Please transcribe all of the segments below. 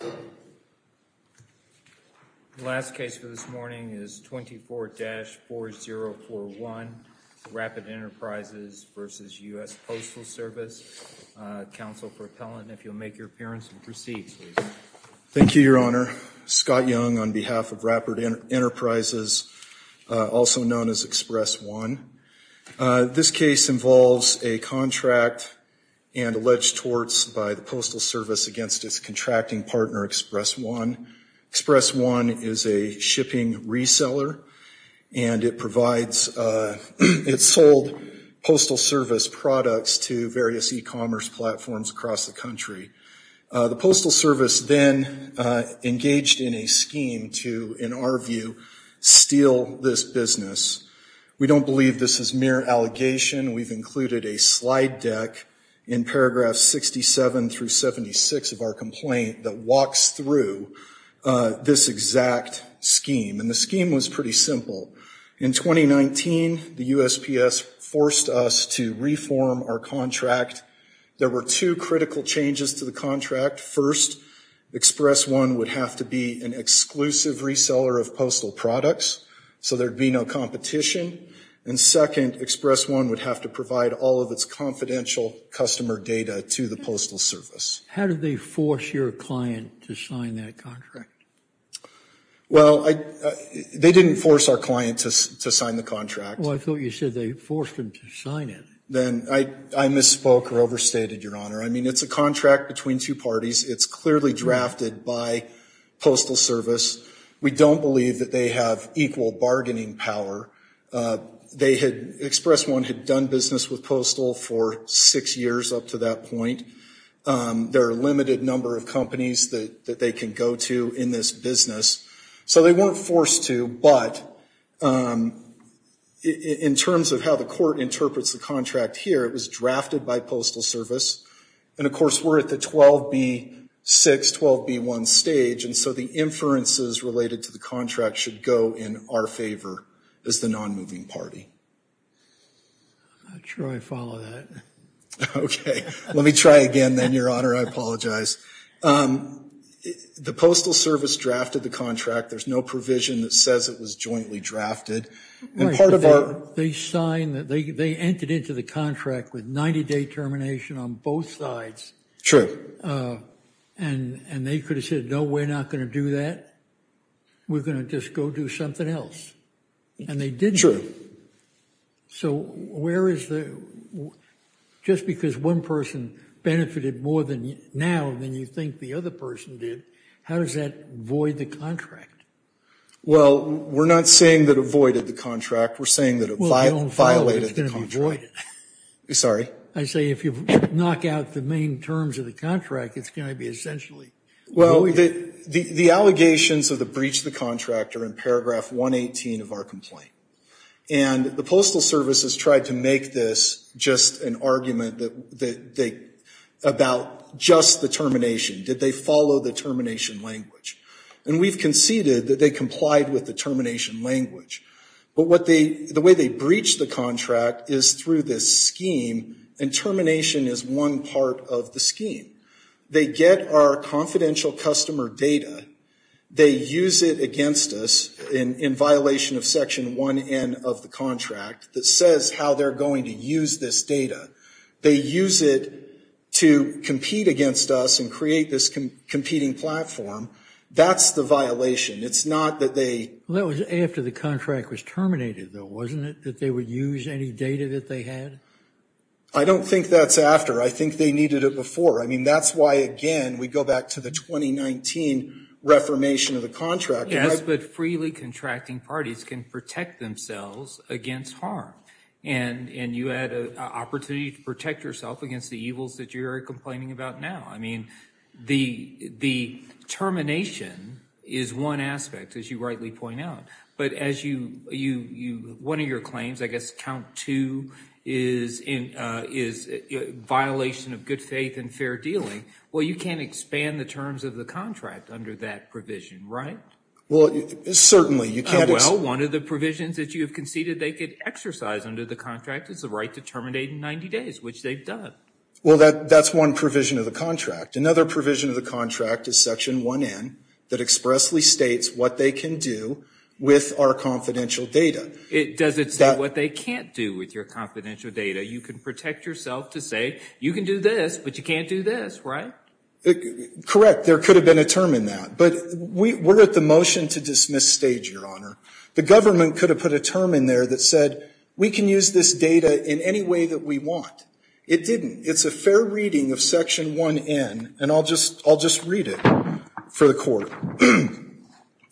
The last case for this morning is 24-4041 Rapid Enterprises v. U.S. Postal Service. Counsel for Appellant, if you'll make your appearance and proceed, please. Thank you, Your Honor. Scott Young on behalf of Rapid Enterprises, also known as Express One. This case involves a contract and alleged torts by the Postal Service against its contracting partner, Express One. Express One is a shipping reseller and it provides, it sold Postal Service products to various e-commerce platforms across the country. The Postal Service then engaged in a scheme to, in our view, steal this business. We don't believe this is mere allegation. We've included a slide deck in paragraphs 67 through 76 of our complaint that walks through this exact scheme. And the scheme was pretty simple. In 2019, the USPS forced us to reform our contract. There were two critical changes to the contract. First, Express One would have to be an exclusive reseller of postal products so there'd be no competition. And second, Express One would have to provide all of its confidential customer data to the Postal Service. How did they force your client to sign that contract? Well, they didn't force our client to sign the contract. Well, I thought you said they forced them to sign it. Then I misspoke or overstated, Your Honor. I mean, it's a contract between two parties. It's clearly drafted by Postal Service. We don't believe that they have equal bargaining power. They had, Express One had done business with Postal for six years up to that point. There are a limited number of companies that they can go to in this business. So they weren't forced to, but in terms of how the court interprets the contract here, it was drafted by Postal Service. And, of course, we're at the 12B6, 12B1 stage. And so the inferences related to the contract should go in our favor as the non-moving party. I'm not sure I follow that. Okay. Let me try again then, Your Honor. I apologize. The Postal Service drafted the contract. There's no provision that says it was jointly drafted. And part of our- They entered into the contract with 90-day termination on both sides. And they could have said, no, we're not going to do that. We're going to just go do something else. And they didn't. So where is the-just because one person benefited more now than you think the other person did, how does that void the contract? Well, we're not saying that it voided the contract. We're saying that it violated the contract. Well, I don't follow that it's going to be voided. Sorry? I say if you knock out the main terms of the contract, it's going to be essentially voided. Well, the allegations of the breach of the contract are in paragraph 118 of our complaint. And the Postal Service has tried to make this just an argument that they-about just the termination. Did they follow the termination language? And we've conceded that they complied with the termination language. But what they-the way they breached the contract is through this scheme, and termination is one part of the scheme. They get our confidential customer data. They use it against us in violation of Section 1N of the contract that says how they're going to use this data. They use it to compete against us and create this competing platform. That's the violation. It's not that they- Well, that was after the contract was terminated, though, wasn't it, that they would use any data that they had? I don't think that's after. I think they needed it before. I mean, that's why, again, we go back to the 2019 reformation of the contract. Yes, but freely contracting parties can protect themselves against harm. And you had an opportunity to protect yourself against the evils that you're complaining about now. I mean, the termination is one aspect, as you rightly point out. But as you-one of your claims, I guess count two, is violation of good faith and fair dealing. Well, you can't expand the terms of the contract under that provision, right? Well, certainly, you can't- Well, one of the provisions that you have conceded they could exercise under the contract is the right to terminate in 90 days, which they've done. Well, that's one provision of the contract. Another provision of the contract is Section 1N that expressly states what they can do with our confidential data. Does it say what they can't do with your confidential data? You can protect yourself to say, you can do this, but you can't do this, right? Correct. There could have been a term in that. But we're at the motion to dismiss stage, Your Honor. The government could have put a term in there that said, we can use this data in any way that we want. It didn't. It's a fair reading of Section 1N, and I'll just read it for the Court.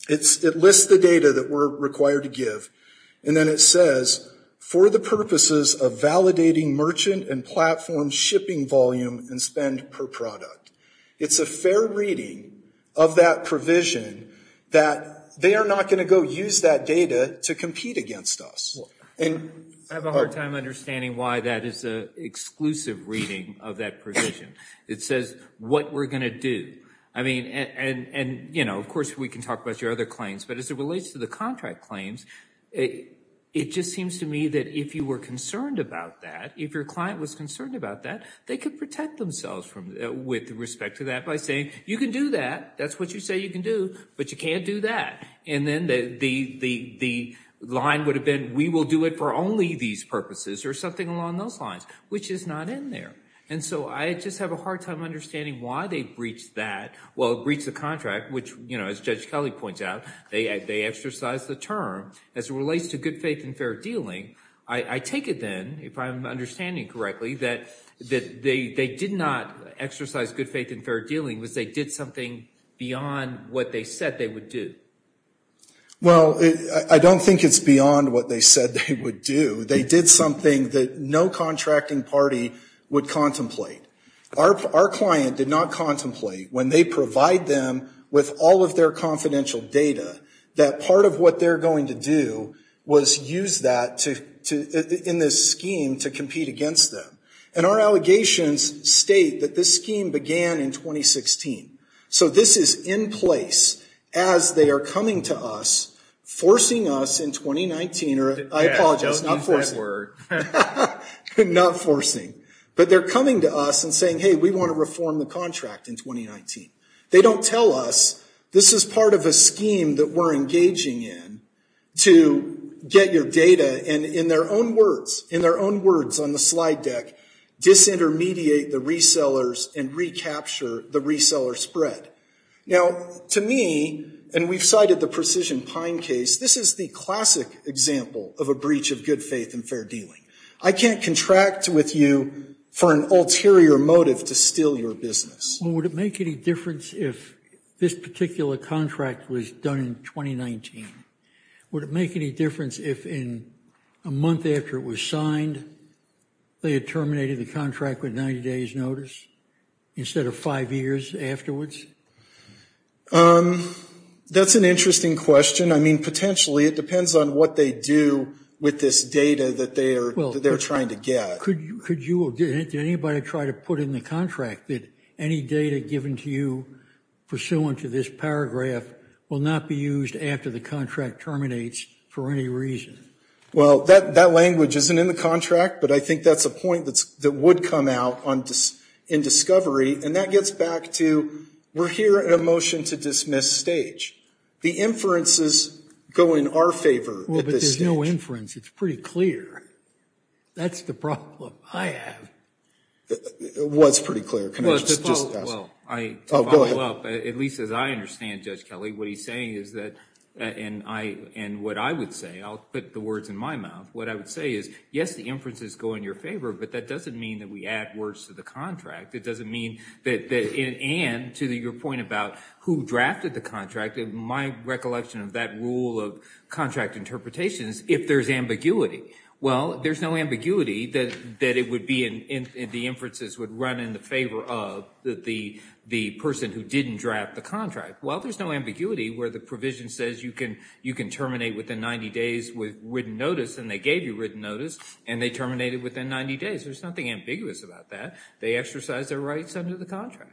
It lists the data that we're required to give, and then it says, for the purposes of validating merchant and platform shipping volume and spend per product. It's a fair reading of that provision that they are not going to go use that data to compete against us. I have a hard time understanding why that is an exclusive reading of that provision. It says what we're going to do. I mean, and, you know, of course, we can talk about your other claims. But as it relates to the contract claims, it just seems to me that if you were concerned about that, if your client was concerned about that, they could protect themselves with respect to that by saying, you can do that, that's what you say you can do, but you can't do that. And then the line would have been, we will do it for only these purposes, or something along those lines, which is not in there. And so I just have a hard time understanding why they breached that. Well, it breached the contract, which, you know, as Judge Kelly points out, they exercised the term as it relates to good faith and fair dealing. I take it then, if I'm understanding correctly, that they did not exercise good faith and fair dealing. Was they did something beyond what they said they would do? Well, I don't think it's beyond what they said they would do. They did something that no contracting party would contemplate. Our client did not contemplate, when they provide them with all of their confidential data, that part of what they're going to do was use that in this scheme to compete against them. And our allegations state that this scheme began in 2016. So this is in place as they are coming to us, forcing us in 2019, or I apologize, not forcing. Not forcing. But they're coming to us and saying, hey, we want to reform the contract in 2019. They don't tell us, this is part of a scheme that we're engaging in to get your data, and in their own words, in their own words on the slide deck, disintermediate the resellers and recapture the reseller spread. Now, to me, and we've cited the Precision Pine case, this is the classic example of a breach of good faith and fair dealing. I can't contract with you for an ulterior motive to steal your business. Well, would it make any difference if this particular contract was done in 2019? Would it make any difference if in a month after it was signed, they had terminated the contract with 90 days notice instead of five years afterwards? That's an interesting question. I mean, potentially, it depends on what they do with this data that they're trying to get. Could you or did anybody try to put in the contract that any data given to you pursuant to this paragraph will not be used after the contract terminates for any reason? Well, that language isn't in the contract, but I think that's a point that would come out in discovery, and that gets back to we're here at a motion to dismiss stage. The inferences go in our favor at this stage. Well, but there's no inference. It's pretty clear. That's the problem I have. It was pretty clear. Well, to follow up, at least as I understand, Judge Kelly, what he's saying is that, and what I would say, I'll put the words in my mouth, what I would say is, yes, the inferences go in your favor, but that doesn't mean that we add words to the contract. It doesn't mean that, and to your point about who drafted the contract, in my recollection of that rule of contract interpretations, if there's ambiguity. Well, there's no ambiguity that it would be, and the inferences would run in the favor of the person who didn't draft the contract. Well, there's no ambiguity where the provision says you can terminate within 90 days with written notice, and they gave you written notice, and they terminated within 90 days. There's nothing ambiguous about that. They exercised their rights under the contract.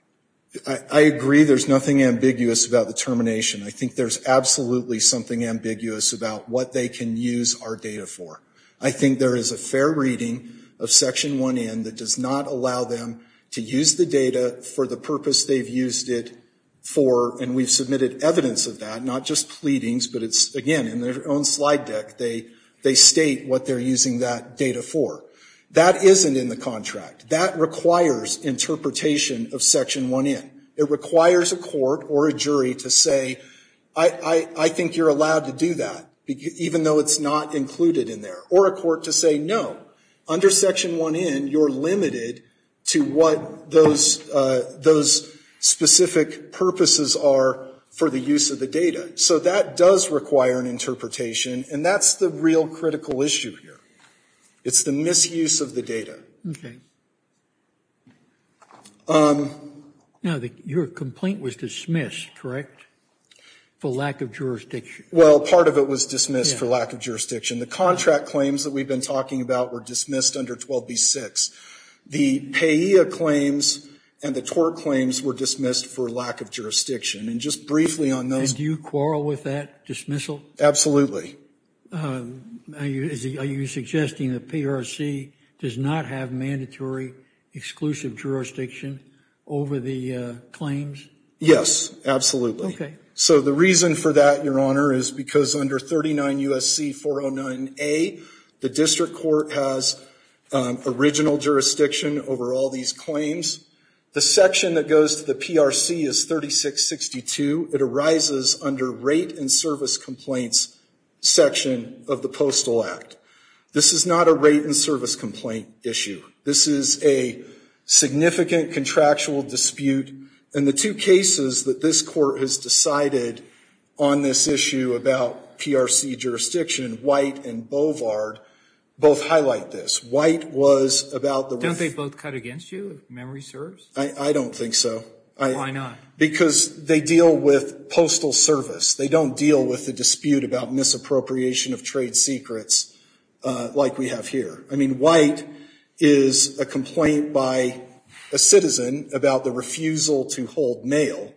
I agree there's nothing ambiguous about the termination. I think there's absolutely something ambiguous about what they can use our data for. I think there is a fair reading of Section 1N that does not allow them to use the data for the purpose they've used it for, and we've submitted evidence of that, not just pleadings, but it's, again, in their own slide deck, they state what they're using that data for. That isn't in the contract. That requires interpretation of Section 1N. It requires a court or a jury to say, I think you're allowed to do that, even though it's not included in there, or a court to say no. Under Section 1N, you're limited to what those specific purposes are for the use of the data. So that does require an interpretation, and that's the real critical issue here. It's the misuse of the data. Okay. Now, your complaint was dismissed, correct, for lack of jurisdiction? Well, part of it was dismissed for lack of jurisdiction. The contract claims that we've been talking about were dismissed under 12b-6. The PAEA claims and the TOR claims were dismissed for lack of jurisdiction, and just briefly on those- And do you quarrel with that dismissal? Absolutely. Are you suggesting the PRC does not have mandatory exclusive jurisdiction over the claims? Yes, absolutely. Okay. So the reason for that, Your Honor, is because under 39 U.S.C. 409a, the district court has original jurisdiction over all these claims. The section that goes to the PRC is 3662. It arises under rate and service complaints section of the Postal Act. This is not a rate and service complaint issue. This is a significant contractual dispute, and the two cases that this court has decided on this issue about PRC jurisdiction, White and Bovard, both highlight this. White was about the- Don't they both cut against you, if memory serves? I don't think so. Why not? Because they deal with postal service. They don't deal with the dispute about misappropriation of trade secrets like we have here. I mean, White is a complaint by a citizen about the refusal to hold mail,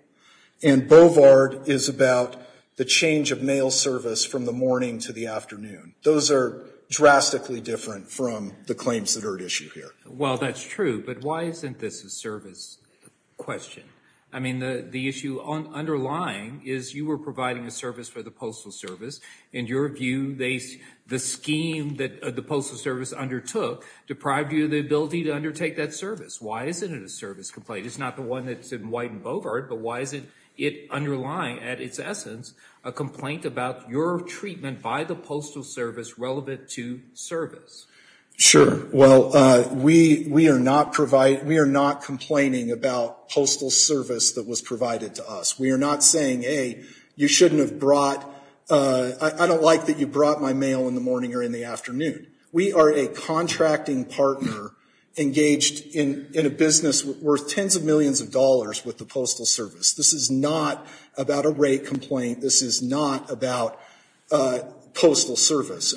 and Bovard is about the change of mail service from the morning to the afternoon. Those are drastically different from the claims that are at issue here. Well, that's true, but why isn't this a service question? I mean, the issue underlying is you were providing a service for the postal service. In your view, the scheme that the postal service undertook deprived you of the ability to undertake that service. Why isn't it a service complaint? It's not the one that's in White and Bovard, but why is it underlying, at its essence, a complaint about your treatment by the postal service relevant to service? Sure. Well, we are not complaining about postal service that was provided to us. We are not saying, hey, you shouldn't have brought- I don't like that you brought my mail in the morning or in the afternoon. We are a contracting partner engaged in a business worth tens of millions of dollars with the postal service. This is not about a rate complaint. This is not about postal service.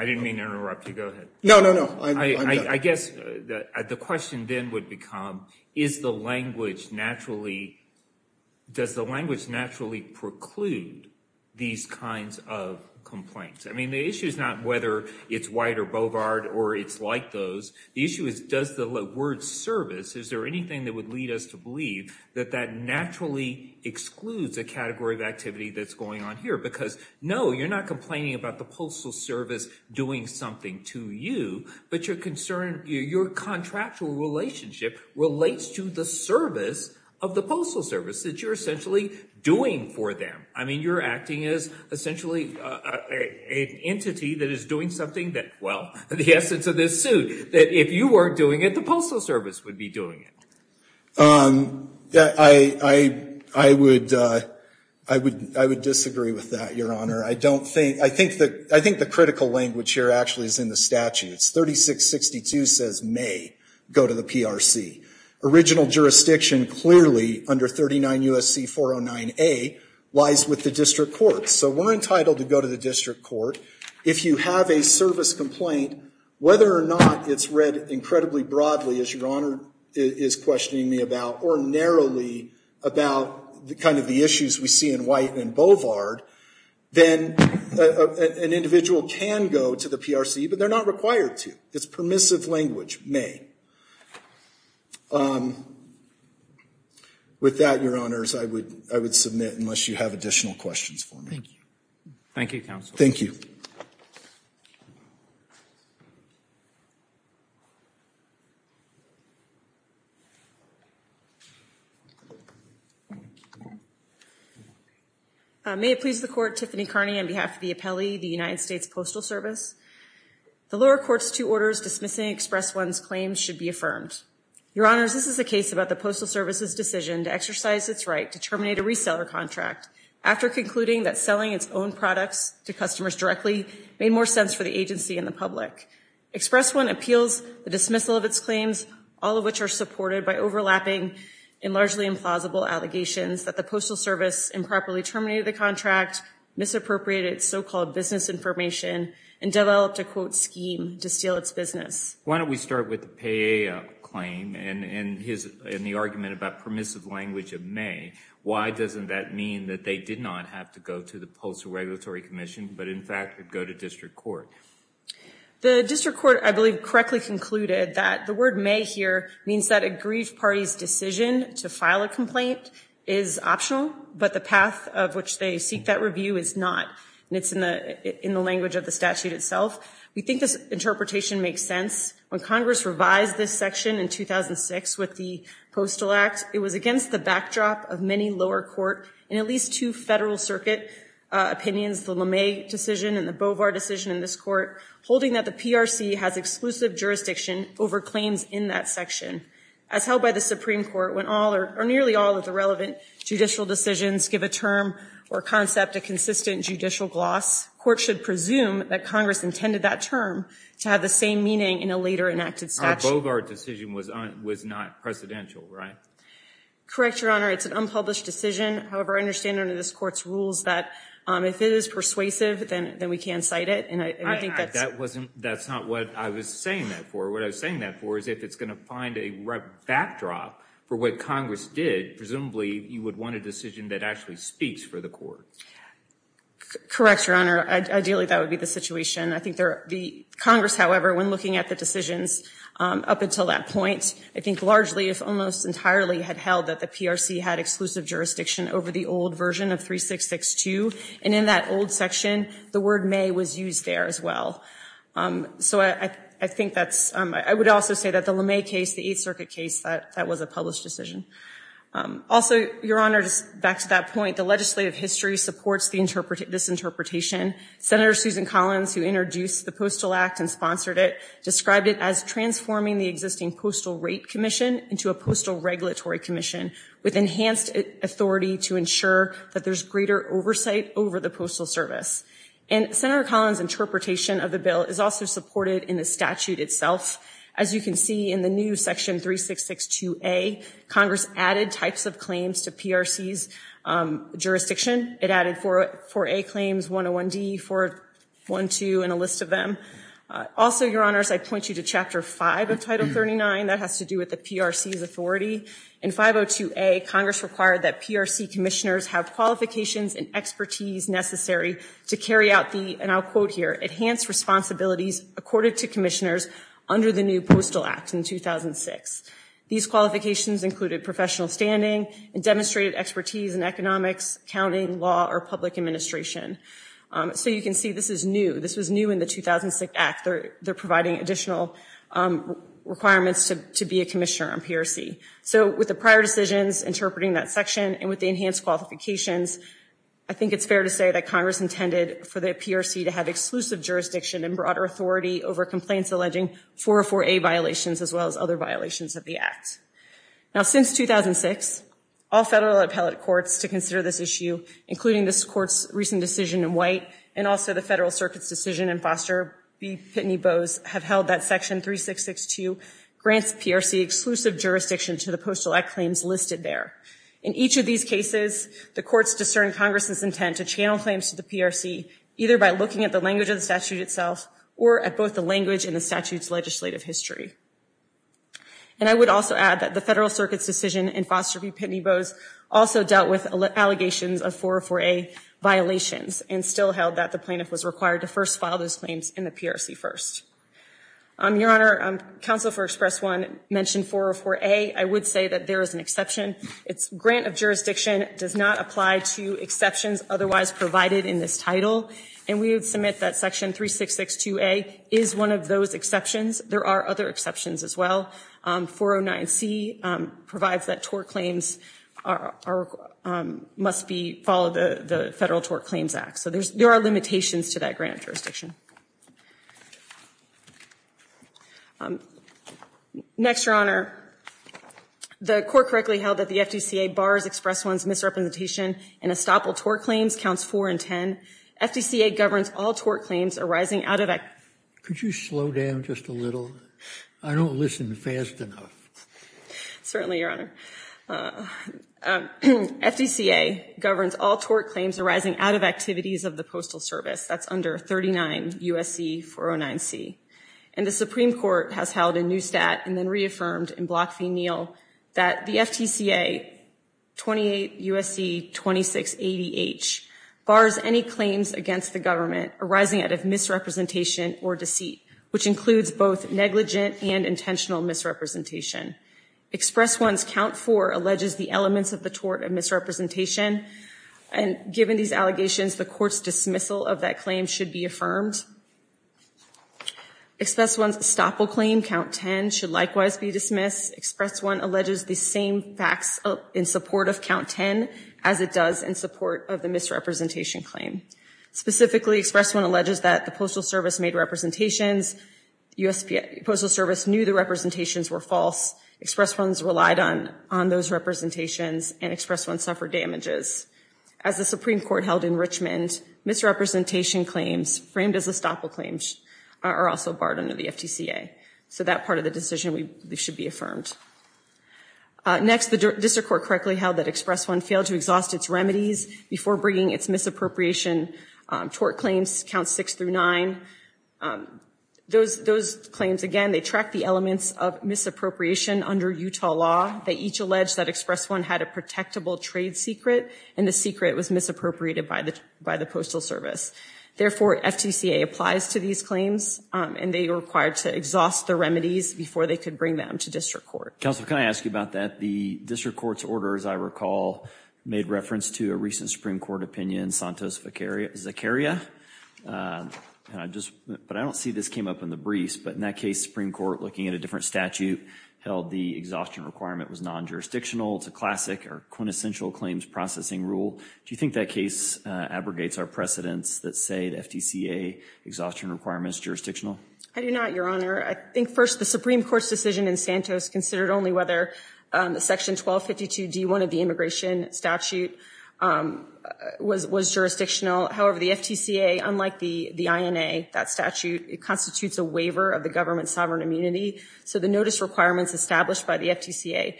I didn't mean to interrupt you. No, no, no. I'm done. I guess the question then would become is the language naturally- does the language naturally preclude these kinds of complaints? I mean, the issue is not whether it's White or Bovard or it's like those. The issue is does the word service, is there anything that would lead us to believe that that naturally excludes a category of activity that's going on here? Because, no, you're not complaining about the postal service doing something to you, but your contractual relationship relates to the service of the postal service that you're essentially doing for them. I mean, you're acting as essentially an entity that is doing something that- well, the essence of this suit, that if you weren't doing it, the postal service would be doing it. I would disagree with that, Your Honor. I don't think- I think the critical language here actually is in the statutes. 3662 says may go to the PRC. Original jurisdiction clearly under 39 U.S.C. 409A lies with the district court. So we're entitled to go to the district court. If you have a service complaint, whether or not it's read incredibly broadly, as Your Honor is questioning me about, or narrowly about kind of the issues we see in White and Bovard, then an individual can go to the PRC, but they're not required to. It's permissive language, may. With that, Your Honors, I would submit, unless you have additional questions for me. Thank you, Counsel. Thank you. Thank you. May it please the Court, Tiffany Carney on behalf of the appellee, the United States Postal Service. The lower court's two orders dismissing Express One's claims should be affirmed. Your Honors, this is a case about the Postal Service's decision to exercise its right to terminate a reseller contract after concluding that selling its own products to customers directly made more sense for the agency and the public. Express One appeals the dismissal of its claims, all of which are supported by overlapping and largely implausible allegations that the Postal Service improperly terminated the contract, misappropriated so-called business information, and developed a, quote, scheme to steal its business. Why don't we start with the pay-up claim and the argument about permissive language of may. Why doesn't that mean that they did not have to go to the Postal Regulatory Commission, but in fact could go to district court? The district court, I believe, correctly concluded that the word may here means that a grieved party's decision to file a complaint is optional, but the path of which they seek that review is not, and it's in the language of the statute itself. We think this interpretation makes sense. When Congress revised this section in 2006 with the Postal Act, it was against the backdrop of many lower court and at least two federal circuit opinions, the LeMay decision and the Bovar decision in this court, holding that the PRC has exclusive jurisdiction over claims in that section. As held by the Supreme Court, when all or nearly all of the relevant judicial decisions give a term or concept a consistent judicial gloss, court should presume that Congress intended that term to have the same meaning in a later enacted statute. Our Bovar decision was not presidential, right? Correct, Your Honor. It's an unpublished decision. However, I understand under this court's rules that if it is persuasive, then we can cite it. That's not what I was saying that for. What I was saying that for is if it's going to find a backdrop for what Congress did, presumably you would want a decision that actually speaks for the court. Correct, Your Honor. Ideally, that would be the situation. Congress, however, when looking at the decisions up until that point, I think largely if almost entirely had held that the PRC had exclusive jurisdiction over the old version of 3662. And in that old section, the word may was used there as well. So I think that's, I would also say that the LeMay case, the Eighth Circuit case, that was a published decision. Also, Your Honor, back to that point, the legislative history supports this interpretation. Senator Susan Collins, who introduced the Postal Act and sponsored it, described it as transforming the existing Postal Rate Commission into a Postal Regulatory Commission with enhanced authority to ensure that there's greater oversight over the Postal Service. And Senator Collins' interpretation of the bill is also supported in the statute itself. As you can see in the new section 3662A, Congress added types of claims to PRC's jurisdiction. It added 4A claims, 101D, 412, and a list of them. Also, Your Honors, I point you to Chapter 5 of Title 39. That has to do with the PRC's authority. In 502A, Congress required that PRC commissioners have qualifications and expertise necessary to carry out the, and I'll quote here, enhanced responsibilities accorded to commissioners under the new Postal Act in 2006. These qualifications included professional standing and demonstrated expertise in economics, accounting, law, or public administration. So you can see this is new. This was new in the 2006 Act. They're providing additional requirements to be a commissioner on PRC. So with the prior decisions interpreting that section and with the enhanced qualifications, I think it's fair to say that Congress intended for the PRC to have exclusive jurisdiction and broader authority over complaints alleging 404A violations as well as other violations of the Act. Now since 2006, all federal appellate courts to consider this issue, including this Court's recent decision in White, and also the Federal Circuit's decision in Foster v. Pitney Bowes, have held that Section 3662 grants PRC exclusive jurisdiction to the Postal Act claims listed there. In each of these cases, the courts discern Congress's intent to channel claims to the PRC either by looking at the language of the statute itself or at both the language and the statute's legislative history. And I would also add that the Federal Circuit's decision in Foster v. Pitney Bowes also dealt with allegations of 404A violations and still held that the plaintiff was required to first file those claims in the PRC first. Your Honor, Counsel for Express 1 mentioned 404A. I would say that there is an exception. Its grant of jurisdiction does not apply to exceptions otherwise provided in this title, and we would submit that Section 3662A is one of those exceptions. There are other exceptions as well. 409C provides that tort claims must follow the Federal Tort Claims Act. So there are limitations to that grant of jurisdiction. Next, Your Honor. The Court correctly held that the FDCA bars Express 1's misrepresentation in estoppel tort claims, counts 4 and 10. FDCA governs all tort claims arising out of a- Could you slow down just a little? I don't listen fast enough. Certainly, Your Honor. FDCA governs all tort claims arising out of activities of the Postal Service. That's under 39 U.S.C. 409C. And the Supreme Court has held in Neustadt and then reaffirmed in Bloch v. Neal that the FDCA 28 U.S.C. 2680H bars any claims against the government arising out of misrepresentation or deceit, which includes both negligent and intentional misrepresentation. Express 1's count 4 alleges the elements of the tort of misrepresentation. And given these allegations, the Court's dismissal of that claim should be affirmed. Express 1's estoppel claim, count 10, should likewise be dismissed. Express 1 alleges the same facts in support of count 10 as it does in support of the misrepresentation claim. Specifically, Express 1 alleges that the Postal Service made representations. The U.S. Postal Service knew the representations were false. Express 1's relied on those representations, and Express 1 suffered damages. As the Supreme Court held in Richmond, misrepresentation claims framed as estoppel claims are also barred under the FDCA. So that part of the decision should be affirmed. Next, the District Court correctly held that Express 1 failed to exhaust its remedies before bringing its misappropriation tort claims, count 6 through 9. Those claims, again, they track the elements of misappropriation under Utah law. They each allege that Express 1 had a protectable trade secret, and the secret was misappropriated by the Postal Service. Therefore, FDCA applies to these claims, and they were required to exhaust the remedies before they could bring them to District Court. Counsel, can I ask you about that? The District Court's order, as I recall, made reference to a recent Supreme Court opinion, Santos-Zaccaria. But I don't see this came up in the briefs, but in that case, Supreme Court, looking at a different statute, held the exhaustion requirement was non-jurisdictional. It's a classic or quintessential claims processing rule. Do you think that case abrogates our precedents that say the FDCA exhaustion requirement is jurisdictional? I do not, Your Honor. I think, first, the Supreme Court's decision in Santos considered only whether Section 1252D1 of the Immigration Statute was jurisdictional. However, the FDCA, unlike the INA, that statute, constitutes a waiver of the government's sovereign immunity. So the notice requirements established by the FDCA,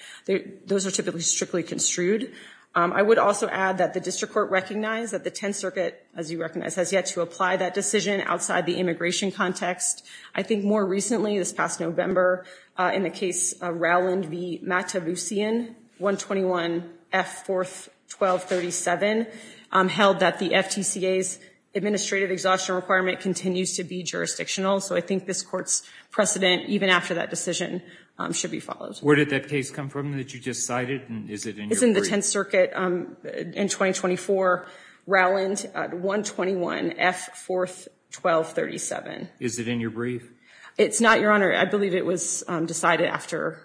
those are typically strictly construed. I would also add that the District Court recognized that the Tenth Circuit, as you recognize, has yet to apply that decision outside the immigration context. I think more recently, this past November, in the case of Rowland v. Mataboussian, 121F41237, held that the FDCA's administrative exhaustion requirement continues to be jurisdictional. So I think this Court's precedent, even after that decision, should be followed. Where did that case come from that you just cited, and is it in your briefs? It's in the Tenth Circuit in 2024, Rowland 121F41237. Is it in your brief? It's not, Your Honor. I believe it was decided after...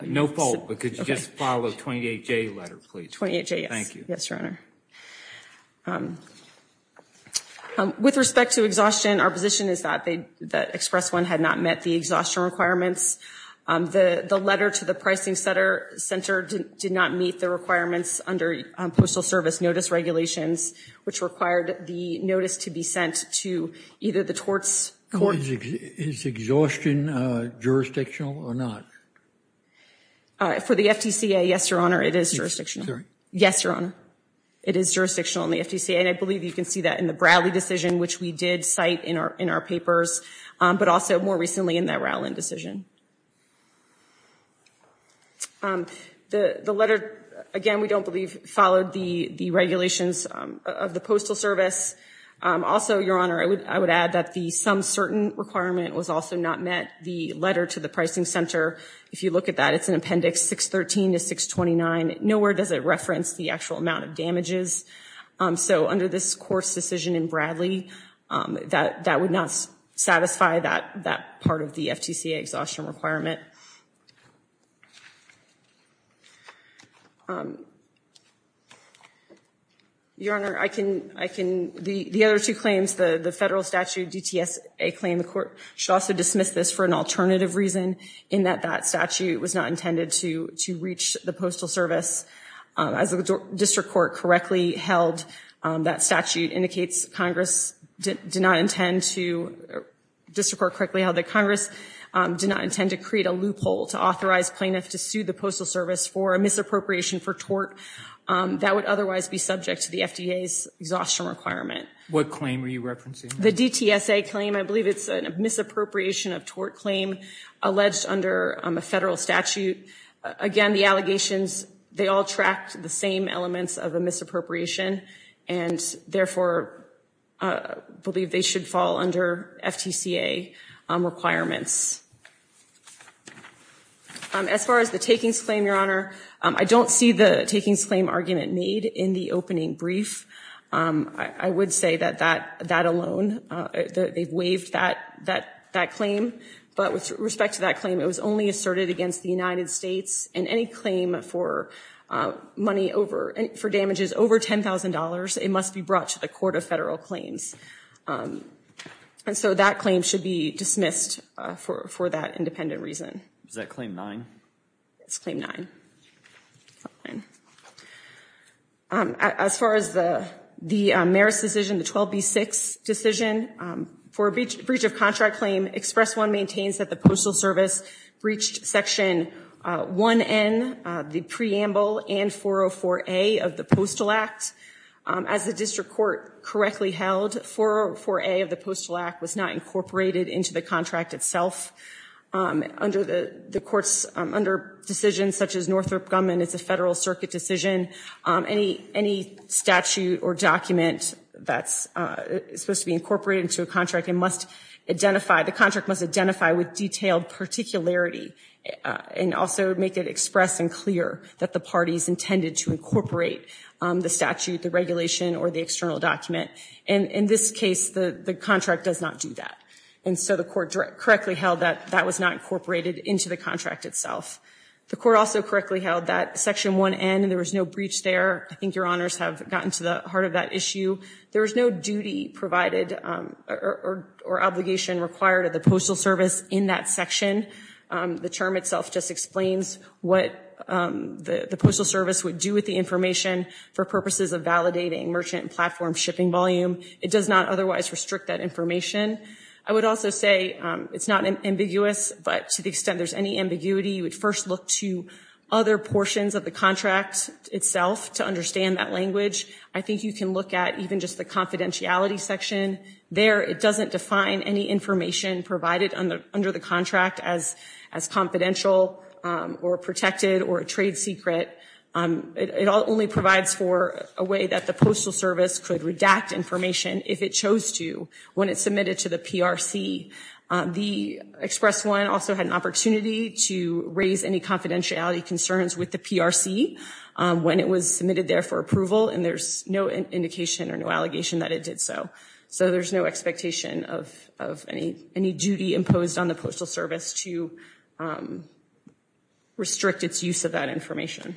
No fault, but could you just follow the 28J letter, please? 28J, yes. Thank you. Yes, Your Honor. With respect to exhaustion, our position is that Express 1 had not met the exhaustion requirements. The letter to the Pricing Center did not meet the requirements under Postal Service Notice Regulations, which required the notice to be sent to either the torts court... Is exhaustion jurisdictional or not? For the FDCA, yes, Your Honor, it is jurisdictional. Sorry? Yes, Your Honor. It is jurisdictional in the FDCA, and I believe you can see that in the Bradley decision, which we did cite in our papers, but also more recently in that Rowland decision. The letter, again, we don't believe followed the regulations of the Postal Service. Also, Your Honor, I would add that the some certain requirement was also not met. The letter to the Pricing Center, if you look at that, it's in Appendix 613 to 629. Nowhere does it reference the actual amount of damages. So under this court's decision in Bradley, that would not satisfy that part of the FDCA exhaustion requirement. Your Honor, the other two claims, the federal statute DTSA claim, the court should also dismiss this for an alternative reason in that that statute was not intended to reach the Postal Service. As the district court correctly held, that statute indicates Congress did not intend to, district court correctly held that Congress did not intend to create a loophole to authorize plaintiffs to sue the Postal Service for a misappropriation for tort that would otherwise be subject to the FDA's exhaustion requirement. What claim were you referencing? The DTSA claim. I believe it's a misappropriation of tort claim alleged under a federal statute. Again, the allegations, they all tracked the same elements of a misappropriation and therefore believe they should fall under FTCA requirements. As far as the takings claim, Your Honor, I don't see the takings claim argument made in the opening brief. I would say that that alone, they've waived that claim. But with respect to that claim, it was only asserted against the United States and any claim for money over, for damages over $10,000, it must be brought to the Court of Federal Claims. And so that claim should be dismissed for that independent reason. Is that Claim 9? It's Claim 9. As far as the Marist decision, the 12B6 decision, for a breach of contract claim, Express 1 maintains that the Postal Service breached Section 1N, the preamble and 404A of the Postal Act. As the district court correctly held, 404A of the Postal Act was not incorporated into the contract itself. Under the courts, under decisions such as Northrop Gumman, it's a federal circuit decision. Any statute or document that's supposed to be incorporated into a contract, it must identify, the contract must identify with detailed particularity and also make it express and clear that the parties intended to incorporate the statute, the regulation, or the external document. And in this case, the contract does not do that. And so the court correctly held that that was not incorporated into the contract itself. The court also correctly held that Section 1N, there was no breach there. I think your honors have gotten to the heart of that issue. There was no duty provided or obligation required of the Postal Service in that section. The term itself just explains what the Postal Service would do with the information for purposes of validating merchant and platform shipping volume. It does not otherwise restrict that information. I would also say it's not ambiguous, but to the extent there's any ambiguity, you would first look to other portions of the contract itself to understand that language. I think you can look at even just the confidentiality section. There, it doesn't define any information provided under the contract as confidential or protected or a trade secret. It only provides for a way that the Postal Service could redact information if it chose to when it submitted to the PRC. The express one also had an opportunity to raise any confidentiality concerns with the PRC when it was submitted there for approval, and there's no indication or no allegation that it did so. So there's no expectation of any duty imposed on the Postal Service to restrict its use of that information.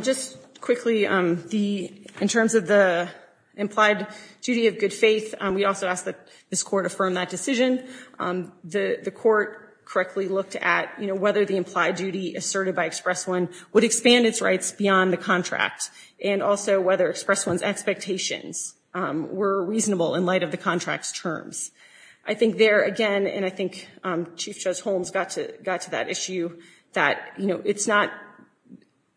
Just quickly, in terms of the implied duty of good faith, we also ask that this court affirm that decision. The court correctly looked at whether the implied duty asserted by express one would expand its rights beyond the contract and also whether express one's expectations were reasonable in light of the contract's terms. I think there, again, and I think Chief Judge Holmes got to that issue, that it's not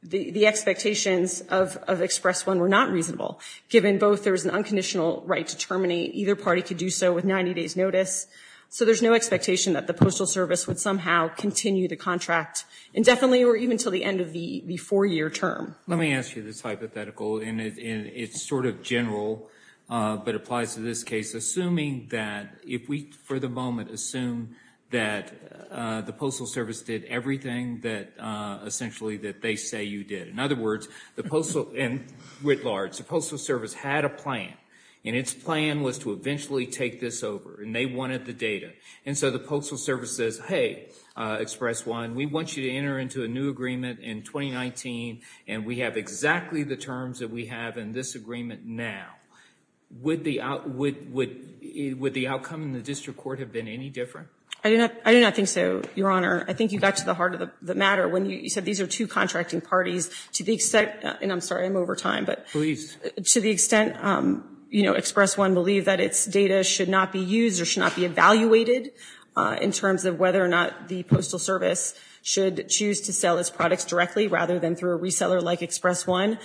the expectations of express one were not reasonable given both there's an unconditional right to terminate. Either party could do so with 90 days notice. So there's no expectation that the Postal Service would somehow continue the contract indefinitely or even until the end of the four-year term. Let me ask you this hypothetical, and it's sort of general but applies to this case, assuming that if we, for the moment, assume that the Postal Service did everything that essentially that they say you did. In other words, and writ large, the Postal Service had a plan, and its plan was to eventually take this over, and they wanted the data. And so the Postal Service says, hey, express one, we want you to enter into a new agreement in 2019, and we have exactly the terms that we have in this agreement now. Would the outcome in the district court have been any different? I do not think so, Your Honor. I think you got to the heart of the matter when you said these are two contracting parties to the extent, and I'm sorry, I'm over time. Please. To the extent Express One believed that its data should not be used or should not be evaluated in terms of whether or not the Postal Service should choose to sell its products directly rather than through a reseller like Express One,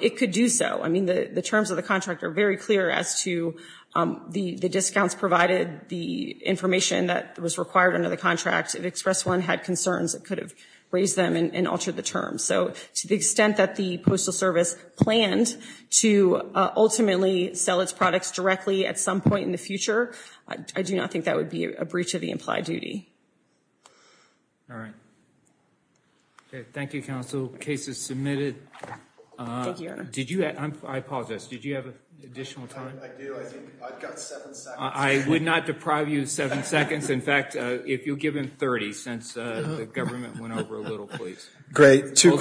it could do so. I mean, the terms of the contract are very clear as to the discounts provided, the information that was required under the contract. If Express One had concerns, it could have raised them and altered the terms. So to the extent that the Postal Service planned to ultimately sell its products directly at some point in the future, I do not think that would be a breach of the implied duty. All right. Thank you, Counsel. Case is submitted. Thank you, Your Honor. I apologize. Did you have additional time? I do. I've got seven seconds. I would not deprive you of seven seconds. In fact, if you'll give him 30 since the government went over a little, please. Great. Two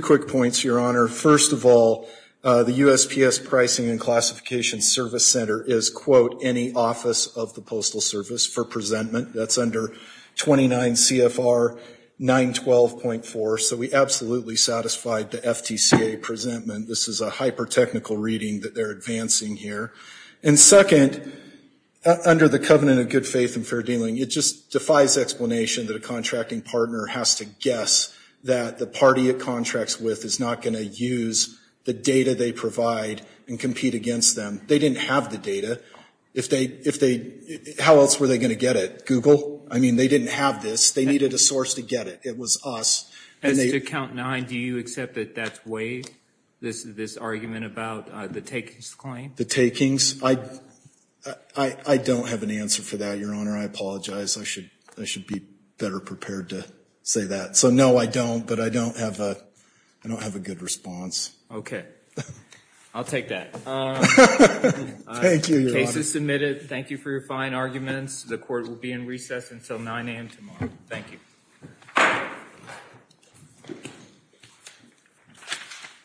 quick points, Your Honor. First of all, the USPS Pricing and Classification Service Center is, quote, any office of the Postal Service for presentment. That's under 29 CFR 912.4. So we absolutely satisfied the FTCA presentment. This is a hyper-technical reading that they're advancing here. And second, under the covenant of good faith and fair dealing, it just defies explanation that a contracting partner has to guess that the party it contracts with is not going to use the data they provide and compete against them. They didn't have the data. How else were they going to get it? Google? I mean, they didn't have this. They needed a source to get it. It was us. As to count nine, do you accept that that's waived, this argument about the takings claim? The takings? I don't have an answer for that, Your Honor. I apologize. I should be better prepared to say that. So, no, I don't. But I don't have a good response. Okay. I'll take that. Thank you, Your Honor. The case is submitted. Thank you for your fine arguments. The court will be in recess until 9 a.m. tomorrow. Thank you.